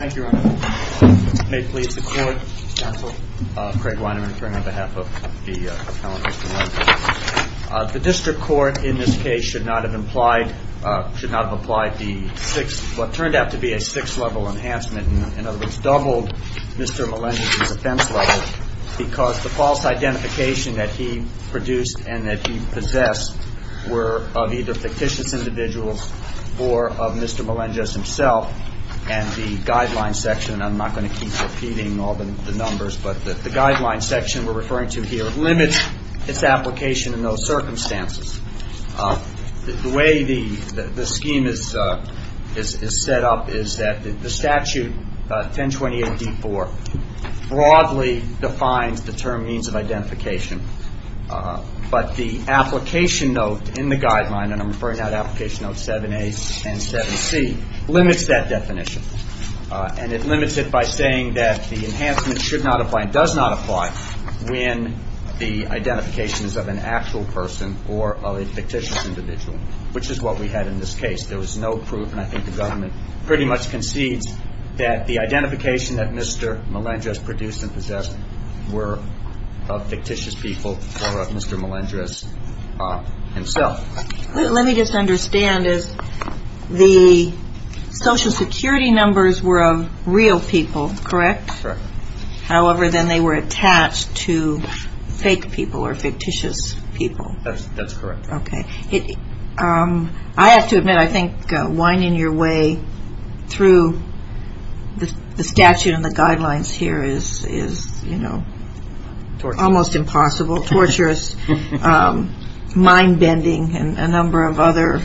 The district court in this case should not have implied, should not have applied the six, what turned out to be a six level enhancement. In other words, doubled Mr. Melendrez's offense level because the false identification that he produced and that he possessed were of either fictitious individuals or of Mr. Melendrez himself. And the guideline section, and I'm not going to keep repeating all the numbers, but the guideline section we're referring to here limits its application in those circumstances. The way the scheme is set up is that the statute 1028-D4 broadly defines the term means of identification. But the application note in the guideline, and I'm referring now to application notes 7A and 7C, limits that definition. And it limits it by saying that the enhancement should not apply and does not apply when the identification is of an actual person or of a fictitious individual, which is what we had in this case. There was no proof, and I think the government pretty much concedes that the identification that Mr. Melendrez produced and possessed were of fictitious people or of Mr. Melendrez himself. Let me just understand. The Social Security numbers were of real people, correct? Correct. However, then they were attached to fake people or fictitious people. That's correct. Okay. I have to admit, I think winding your way through the statute and the guidelines here is, you know, almost impossible, torturous, mind-bending, and a number of other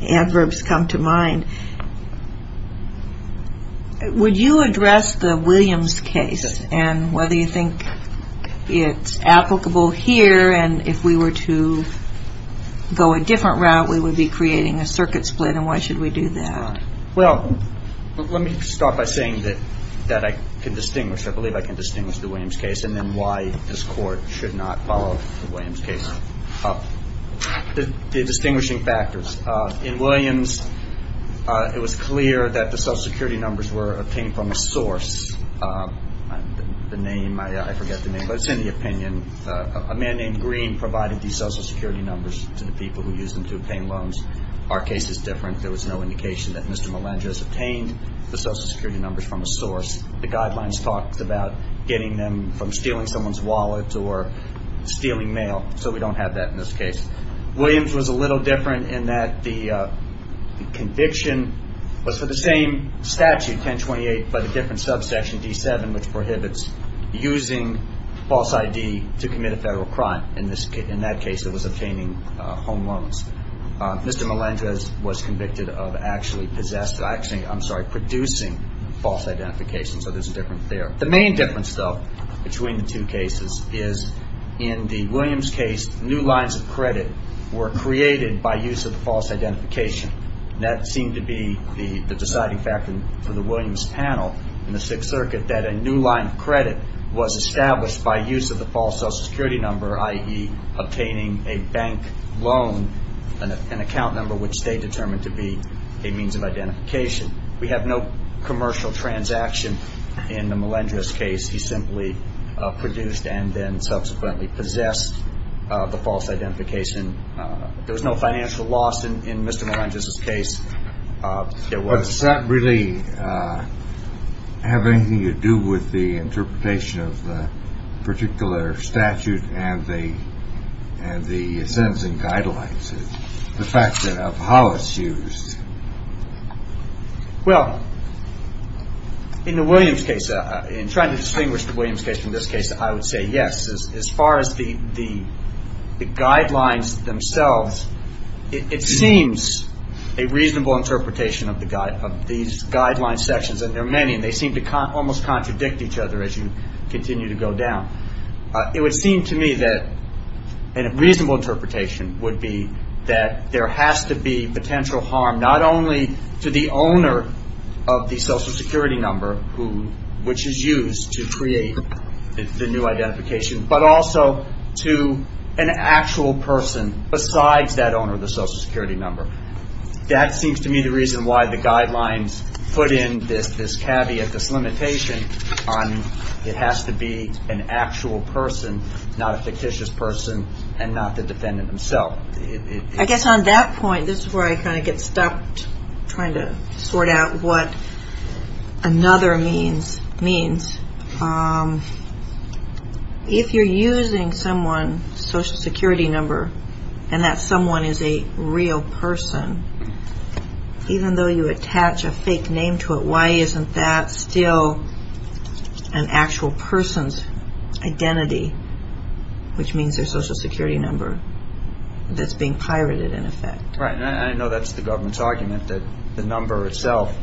adverbs come to mind. Would you address the Williams case and whether you think it's applicable here and if we were to go a different route, we would be creating a circuit split and why should we do that? Well, let me start by saying that I can distinguish, I believe I can distinguish the Williams case and then why this Court should not follow the Williams case up. The distinguishing factors. In Williams, it was clear that the Social Security numbers were obtained from a source. The name, I forget the name, but it's in the opinion. A man named Green provided these Social Security numbers to the people who used them to obtain loans. Our case is that Mr. Melendrez obtained the Social Security numbers from a source. The guidelines talked about getting them from stealing someone's wallet or stealing mail, so we don't have that in this case. Williams was a little different in that the conviction was for the same statute, 1028, but a different subsection, D7, which prohibits using false ID to commit a federal crime. In that case, it was obtaining home loans. Mr. Melendrez was convicted of actually possessing, I'm sorry, producing false identification, so there's a difference there. The main difference though between the two cases is in the Williams case, new lines of credit were created by use of the false identification. That seemed to be the deciding factor for the Williams panel in the Sixth Circuit, that a new line of credit was established by use of the false Social Security number, i.e. obtaining a bank loan, an account number which they determined to be a means of identification. We have no commercial transaction in the Melendrez case. He simply produced and then subsequently possessed the false identification. There was no financial loss in Mr. Melendrez's case. But does that really have anything to do with the interpretation of the particular statute and the sentencing guidelines, the fact that of Hollis use? Well, in the Williams case, in trying to distinguish the Williams case from this case, I would say yes. As far as the guidelines themselves, it seems a reasonable interpretation of these guidelines sections, and there are many, and they seem to almost contradict each other as you continue to go down. It would seem to me that a reasonable interpretation would be that there has to be potential harm, not only to the owner of the Social Security number, which is used to create the new identification, but also to an actual person besides that owner of the Social Security number. That seems to me the reason why the guidelines put in this caveat, this limitation on it has to be an actual person, not a fictitious person, and not the defendant himself. I guess on that point, this is where I kind of get stuck trying to sort out what another means means. If you're using someone's Social Security number and that someone is a real person, even though you attach a fake name to it, why isn't that still an actual person's identity, which means their Social Security number, that's being pirated in effect? Right, and I know that's the government's argument, that the number itself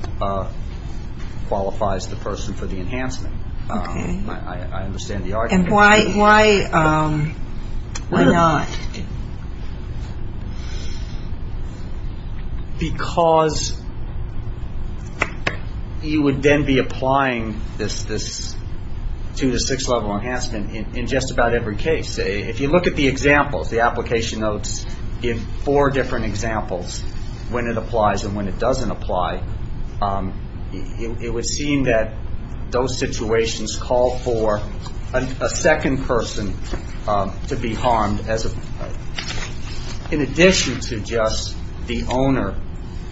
qualifies the person for the enhancement. I understand the argument. And why not? Because you would then be applying this two to six level enhancement in just about every case. If you look at the examples, the application notes give four different examples when it person to be harmed in addition to just the owner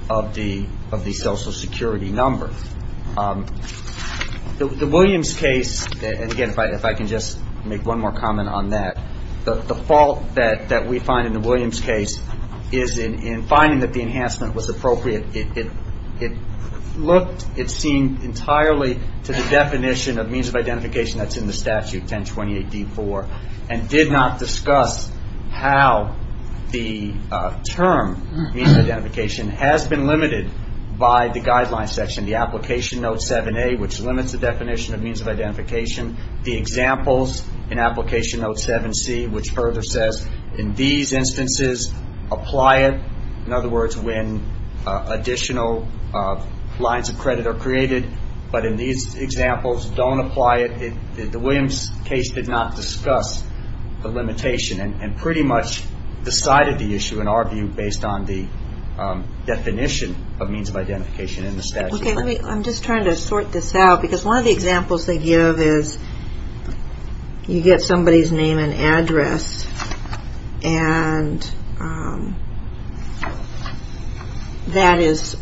of the Social Security number. The Williams case, and again, if I can just make one more comment on that, the fault that we find in the Williams case is in finding that the enhancement was appropriate. It looked, it seemed entirely to the definition of means of identification that's in the statute, 1028D4, and did not discuss how the term means of identification has been limited by the guideline section, the application note 7A, which limits the definition of means of identification. The examples in application note 7C, which further says, in these instances, apply it. In other cases, these examples don't apply it. The Williams case did not discuss the limitation and pretty much decided the issue, in our view, based on the definition of means of identification in the statute. Okay, let me, I'm just trying to sort this out, because one of the examples they give is you get somebody's name and address, and that is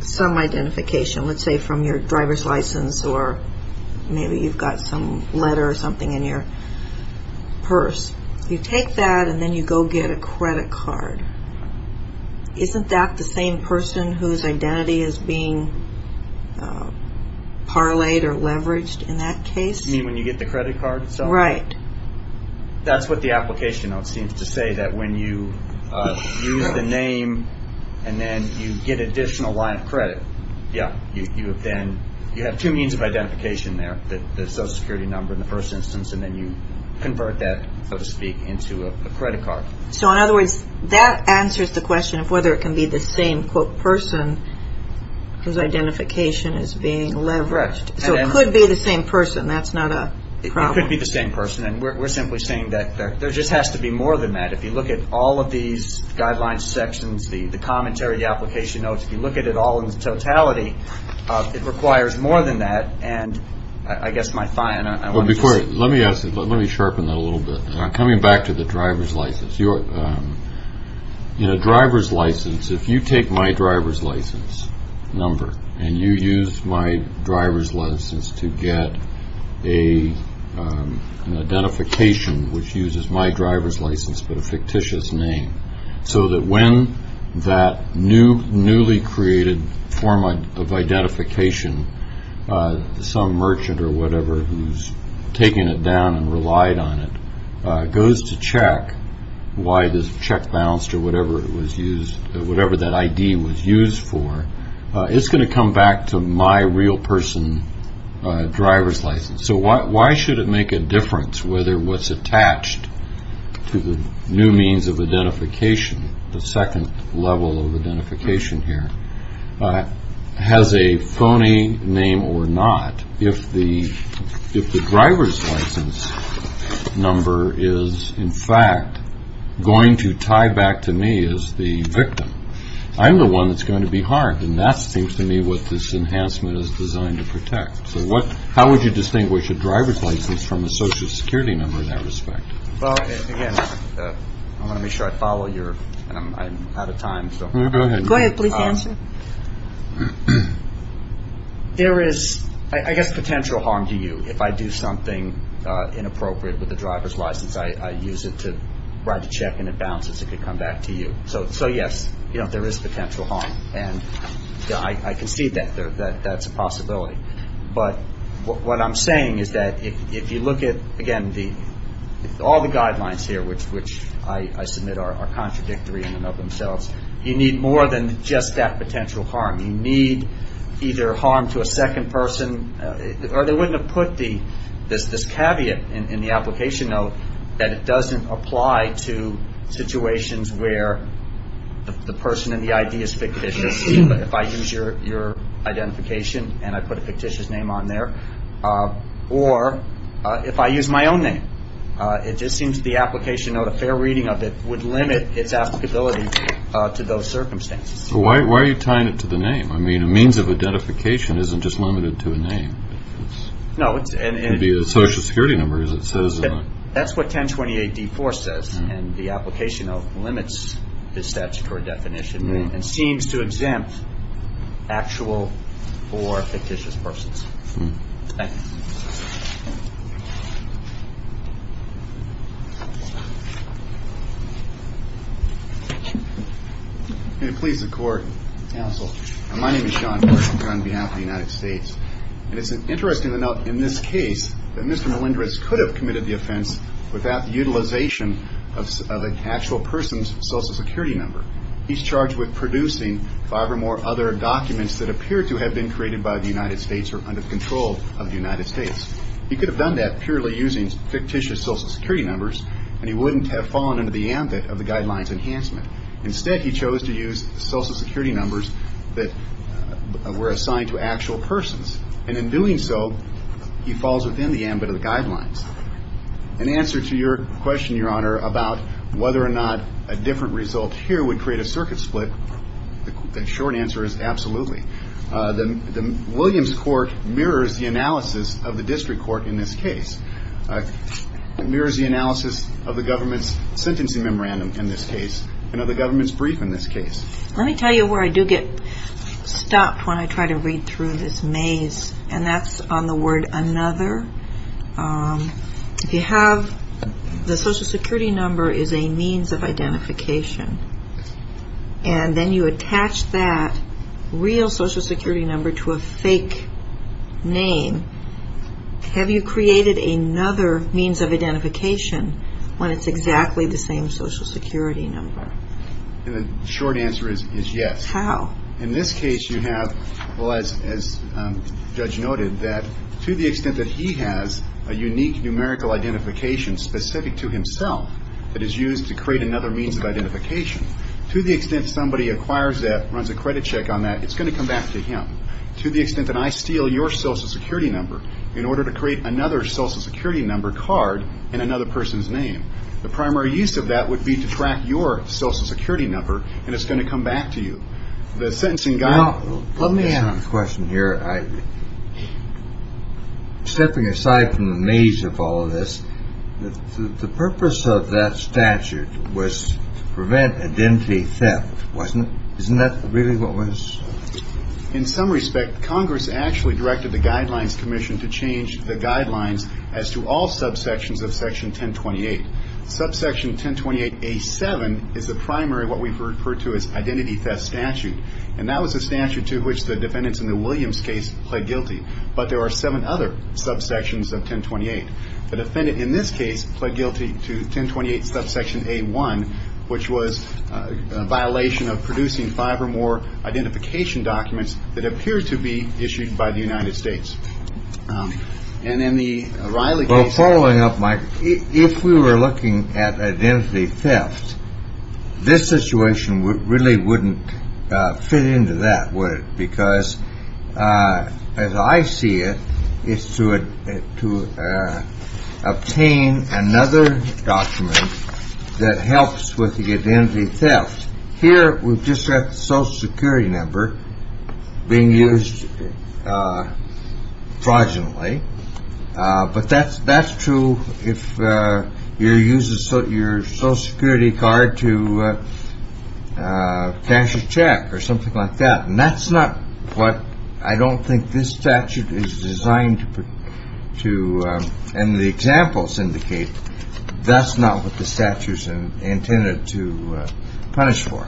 some identification, let's say from your driver's license, or maybe you've got some letter or something in your purse. You take that, and then you go get a credit card. Isn't that the same person whose identity is being parlayed or leveraged in that case? You mean when you get the credit card itself? Right. That's what the application note seems to say, that when you use the name and then you get additional line of credit, yeah, you have two means of identification there, the Social Security number in the first instance, and then you convert that, so to speak, into a credit card. So in other words, that answers the question of whether it can be the same, quote, person whose identification is being leveraged. So it could be the same person. That's not a problem. It could be the same person, and we're simply saying that there just has to be more than that. If you look at all of these guidelines sections, the commentary, the application notes, if you look at it all in totality, it requires more than that, and I guess my fine, I want to just... Well, before, let me ask, let me sharpen that a little bit, and I'm coming back to the driver's license. You know, driver's license, if you take my driver's license number and you use my driver's license to get an identification which uses my driver's license, but a fictitious name, so that when that newly created form of identification, some merchant or whatever who's taken it down and relied on it, goes to check why this check bounced or whatever that ID was used for, it's going to come back to my real person driver's license. So why should it make a difference whether what's attached to the new means of identification, the second level of identification here, has a phony name or not, if the driver's license number is, in fact, going to tie back to me as the victim? I'm the one that's going to be harmed, and that seems to me what this enhancement is designed to protect. So what, how would you distinguish a driver's license from a social security number in that respect? Well, again, I want to make sure I follow your, and I'm out of time, so... Go ahead. Go ahead, please answer. There is, I guess, potential harm to you if I do something inappropriate with the driver's license. I use it to write a check and it bounces. It could come back to you. So yes, there is potential harm, and I can see that that's a possibility. But what I'm saying is that if you look at, again, all the guidelines here, which I submit are contradictory in of themselves, you need more than just that potential harm. You need either harm to a second person, or they wouldn't have put this caveat in the application note that it doesn't apply to situations where the person in the ID is fictitious, if I use your identification and I put a fictitious name on there, or if I use my own name. It just seems the application note, a fair reading of it, would limit its applicability to those circumstances. Why are you tying it to the name? I mean, a means of identification isn't just limited to a name. It could be a social security number, as it says. That's what 1028-D4 says, and the application note limits the statutory definition and seems to exempt actual or fictitious persons. Thank you. May it please the Court, Counsel. My name is Sean Horton, and I'm on behalf of the United States. And it's interesting to note in this case that Mr. Melendrez could have committed the offense without the utilization of an actual person's social security number. He's charged with producing five or more other documents that appear to have been created by the United States or under control of the United States. He could have done that purely using fictitious social security numbers, and he wouldn't have fallen into the ambit of the Guidelines Enhancement. Instead, he chose to use social security numbers that were assigned to actual persons. And in doing so, he falls within the ambit of the Guidelines. In answer to your question, Your Honor, about whether or not a different result here would create a circuit split, the short answer is absolutely. The Williams Court mirrors the analysis of the district court in this case. It mirrors the analysis of the government's sentencing memorandum in this case and of the government's brief in this case. Let me tell you where I do get stopped when I try to read through this maze, and that's on the word another. If you have the social security number to a fake name, have you created another means of identification when it's exactly the same social security number? And the short answer is yes. How? In this case, you have, as Judge noted, that to the extent that he has a unique numerical identification specific to himself that is used to create another means of identification, to the extent somebody acquires that, runs back to him. To the extent that I steal your social security number in order to create another social security number card in another person's name. The primary use of that would be to track your social security number, and it's going to come back to you. The sentencing guide... Well, let me ask a question here. Stepping aside from the maze of all of this, the purpose of that statute was to prevent identity theft, wasn't it? Isn't that really what was... In some respect, Congress actually directed the Guidelines Commission to change the guidelines as to all subsections of Section 1028. Subsection 1028A7 is the primary, what we've referred to as identity theft statute, and that was a statute to which the defendants in the Williams case pled guilty. But there are seven other subsections of 1028. The defendant in this case pled guilty to 1028 subsection A1, which was a violation of producing five or more identification documents that appear to be issued by the United States. And in the Riley case... Well, following up, Mike, if we were looking at identity theft, this situation really wouldn't fit into that, would it? Because as I see it, it's to obtain another document that helps with the identity theft. Here, we've just got the Social Security number being used fraudulently. But that's true if you're using your Social Security card to cash a check or something like that. And that's not what... I don't think this statute is designed to... And the examples indicate that's not what the statute is intended to punish for.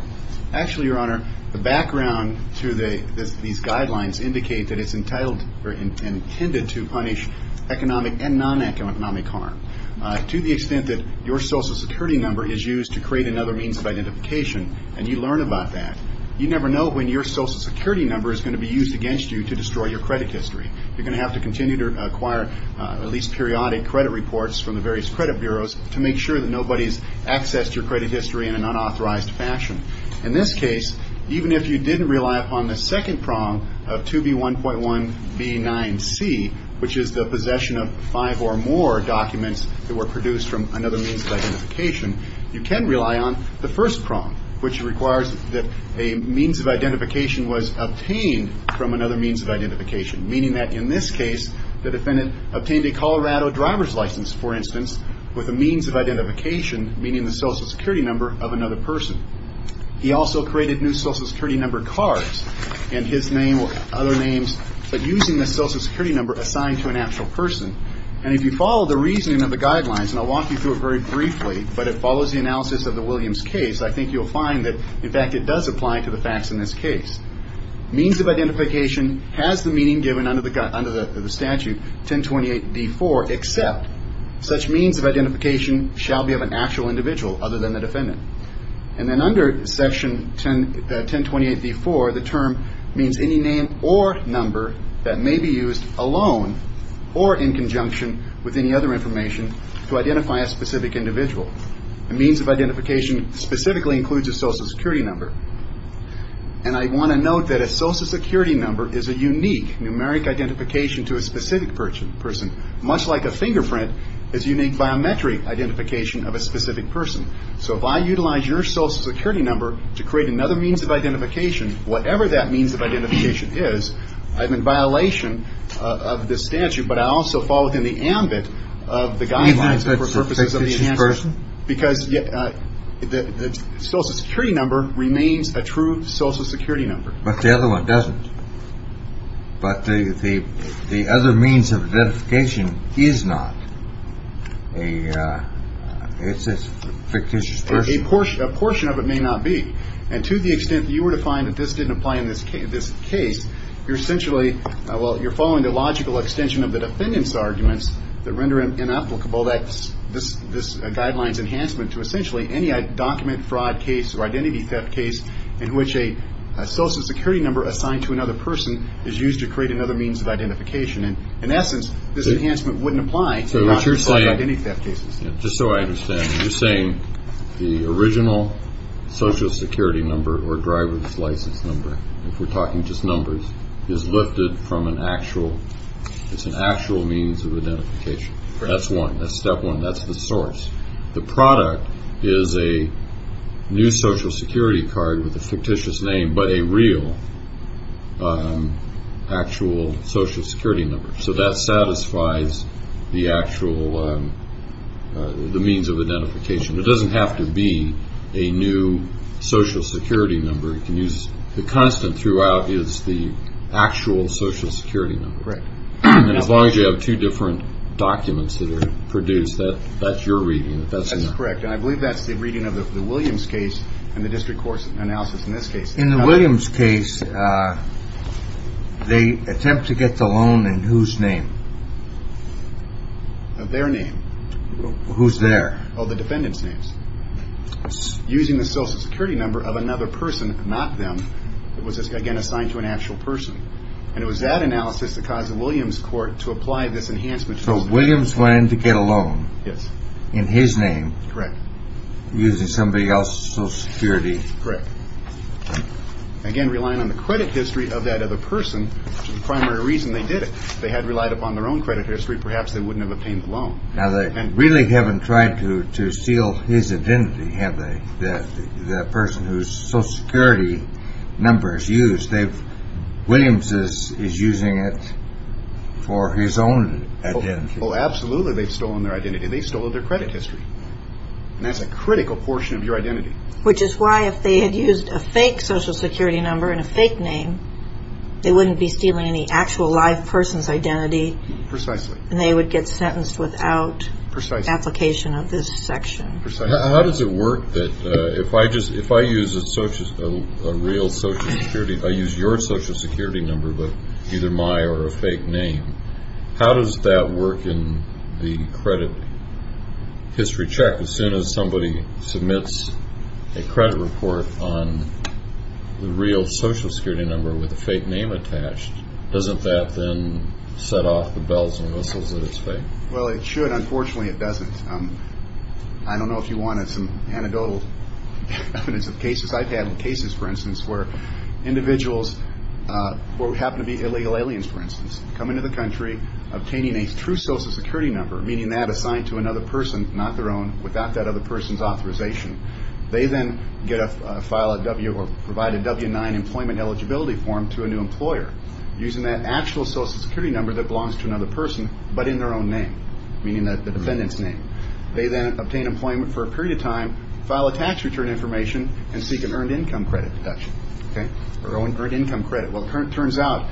Actually, Your Honor, the background to these guidelines indicate that it's intended to punish economic and non-economic harm. To the extent that your Social Security number is used to create another means of identification, and you learn about that, you never know when your Social Security number is going to be used against you to destroy your credit history. You're going to have to continue to acquire at least periodic credit reports from the various credit bureaus to make sure that nobody's accessed your credit history in an unauthorized fashion. In this case, even if you didn't rely upon the second prong of 2B1.1B9C, which is the possession of five or more documents that were produced from another means of identification, you can rely on the first prong, which requires that a means of identification was obtained from another means of identification. Meaning that, in this case, the defendant obtained a Colorado driver's license, for instance, with a means of identification, meaning the Social Security number of another person. He also created new Social Security number cards, and his name or other names, but using the Social Security number assigned to an actual person. And if you follow the reasoning of the guidelines, and I'll walk you through it very briefly, but it follows the analysis of the Williams case, I think you'll find that, in fact, it does apply to the facts in this case. Means of identification has the meaning given under the statute 1028D4, except such means of identification shall be of an actual individual other than the defendant. And then under section 1028D4, the term means any name or number that may be used alone or in conjunction with any other information to identify a specific individual. A means of identification specifically includes a Social Security number. And I want to note that a Social Security number is a unique numeric identification to a specific person, much like a fingerprint is unique biometric identification of a specific person. So if I utilize your Social Security number to create another means of identification, whatever that means of identification is, I'm in violation of the statute, but I also fall within the ambit of the guidelines for purposes of the Social Security number remains a true Social Security number. But the other one doesn't. But the other means of identification is not. It's a fictitious person. A portion of it may not be. And to the extent that you were to find that this didn't apply in this case, you're essentially, well, you're following the logical extension of the defendant's arguments that render it inapplicable that this guideline's enhancement to essentially any document fraud case or identity theft case in which a Social Security number assigned to another person is used to create another means of identification. And in essence, this enhancement wouldn't apply to your own identity theft cases. So what you're saying, just so I understand, you're saying the original Social Security number or driver's license number, if we're talking just numbers, is lifted from an actual, it's an actual means of identification. That's one. That's step one. That's the source. The other is a new Social Security card with a fictitious name, but a real, actual Social Security number. So that satisfies the actual, the means of identification. It doesn't have to be a new Social Security number. You can use, the constant throughout is the actual Social Security number. Correct. And as long as you have two different documents that are produced, that's your reading. If that's enough. Correct. And I believe that's the reading of the Williams case and the district court's analysis in this case. In the Williams case, they attempt to get the loan in whose name? Their name. Who's there? Oh, the defendant's names. Using the Social Security number of another person, not them, it was again assigned to an actual person. And it was that analysis that caused the Williams court to apply this enhancement. So Williams went in to get a loan. Yes. In his name. Correct. Using somebody else's Social Security. Correct. Again, relying on the credit history of that other person, which is the primary reason they did it. If they had relied upon their own credit history, perhaps they wouldn't have obtained the loan. Now, they really haven't tried to steal his identity, have they? That person whose Social Security number is used. Williams is using it for his own identity. Oh, absolutely. They've stolen their identity. They've stolen their credit history. And that's a critical portion of your identity. Which is why if they had used a fake Social Security number and a fake name, they wouldn't be stealing any actual live person's identity. Precisely. And they would get sentenced without application of this section. How does it work that if I use a real Social Security, I use your Social Security number, but either my or a fake name, how does that work in the credit history check? As soon as somebody submits a credit report on the real Social Security number with a fake name attached, doesn't that then set off the bells and whistles that it's fake? Well, it should. Unfortunately, it doesn't. I don't know if you wanted some anecdotal evidence of cases. I've had cases, for instance, where individuals who happen to be illegal aliens, for instance, come into the country obtaining a true Social Security number, meaning that assigned to another person, not their own, without that other person's authorization. They then get a file, or provide a W-9 employment eligibility form to a new employer using that actual Social Security number that belongs to another person, but in their own name, meaning the defendant's name. They then obtain employment for a period of time, file a tax return information, and seek an earned income credit deduction, or earned income credit. Well, it turns out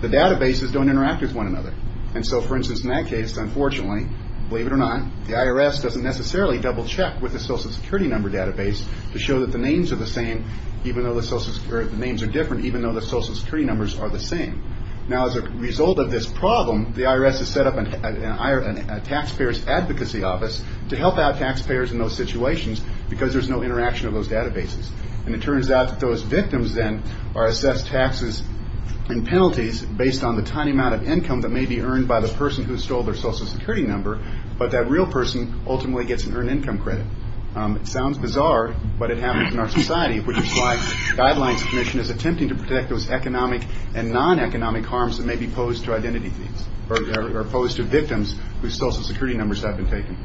the databases don't interact with one another. And so, for instance, in that case, unfortunately, believe it or not, the IRS doesn't necessarily double-check with the Social Security number database to show that the names are the same, or the names are different, even though the Social Security numbers are the same. Now, as a result of this problem, the IRS has set up a Taxpayers Advocacy Office to help out taxpayers in those situations, because there's no interaction of those databases. And it turns out that those victims then are assessed taxes and penalties based on the tiny amount of income that may be earned by the person who stole their Social Security number, but that real person ultimately gets an earned income credit. It sounds bizarre, but it happens in our society, which is why the Guidelines Commission is attempting to protect those economic and non-economic harms that may be posed to identity thieves, or posed to victims whose Social Security numbers have been taken.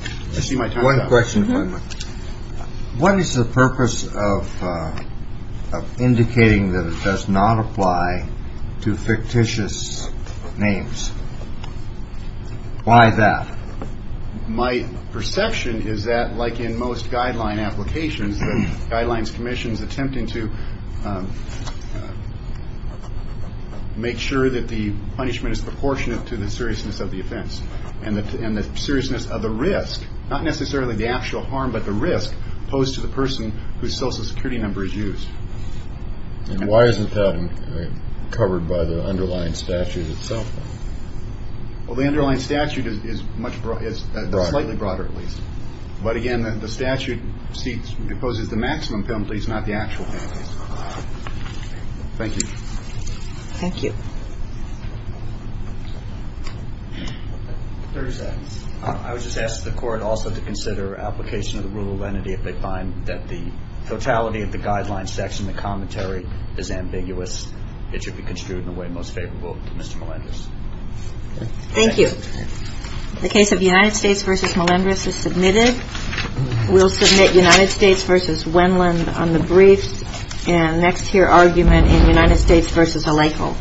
I see my time is up. One question. What is the purpose of indicating that it does not apply to fictitious names? Why that? My perception is that, like in most guideline applications, the Guidelines Commission is to make sure that the punishment is proportionate to the seriousness of the offense, and the seriousness of the risk, not necessarily the actual harm, but the risk posed to the person whose Social Security number is used. And why isn't that covered by the underlying statute itself? Well, the underlying statute is slightly broader, at least. But again, the statute deposes the maximum penalties, not the actual penalties. Thank you. Thank you. Thirty seconds. I would just ask the Court also to consider application of the rule of lenity. If they find that the totality of the guideline section, the commentary, is ambiguous, it should be construed in a way most favorable to Mr. Melendrez. Thank you. The case of United States v. Melendrez is submitted. We'll submit United States v. Wendland on the brief, and next hear argument in United States v. Aleichel. Thank you.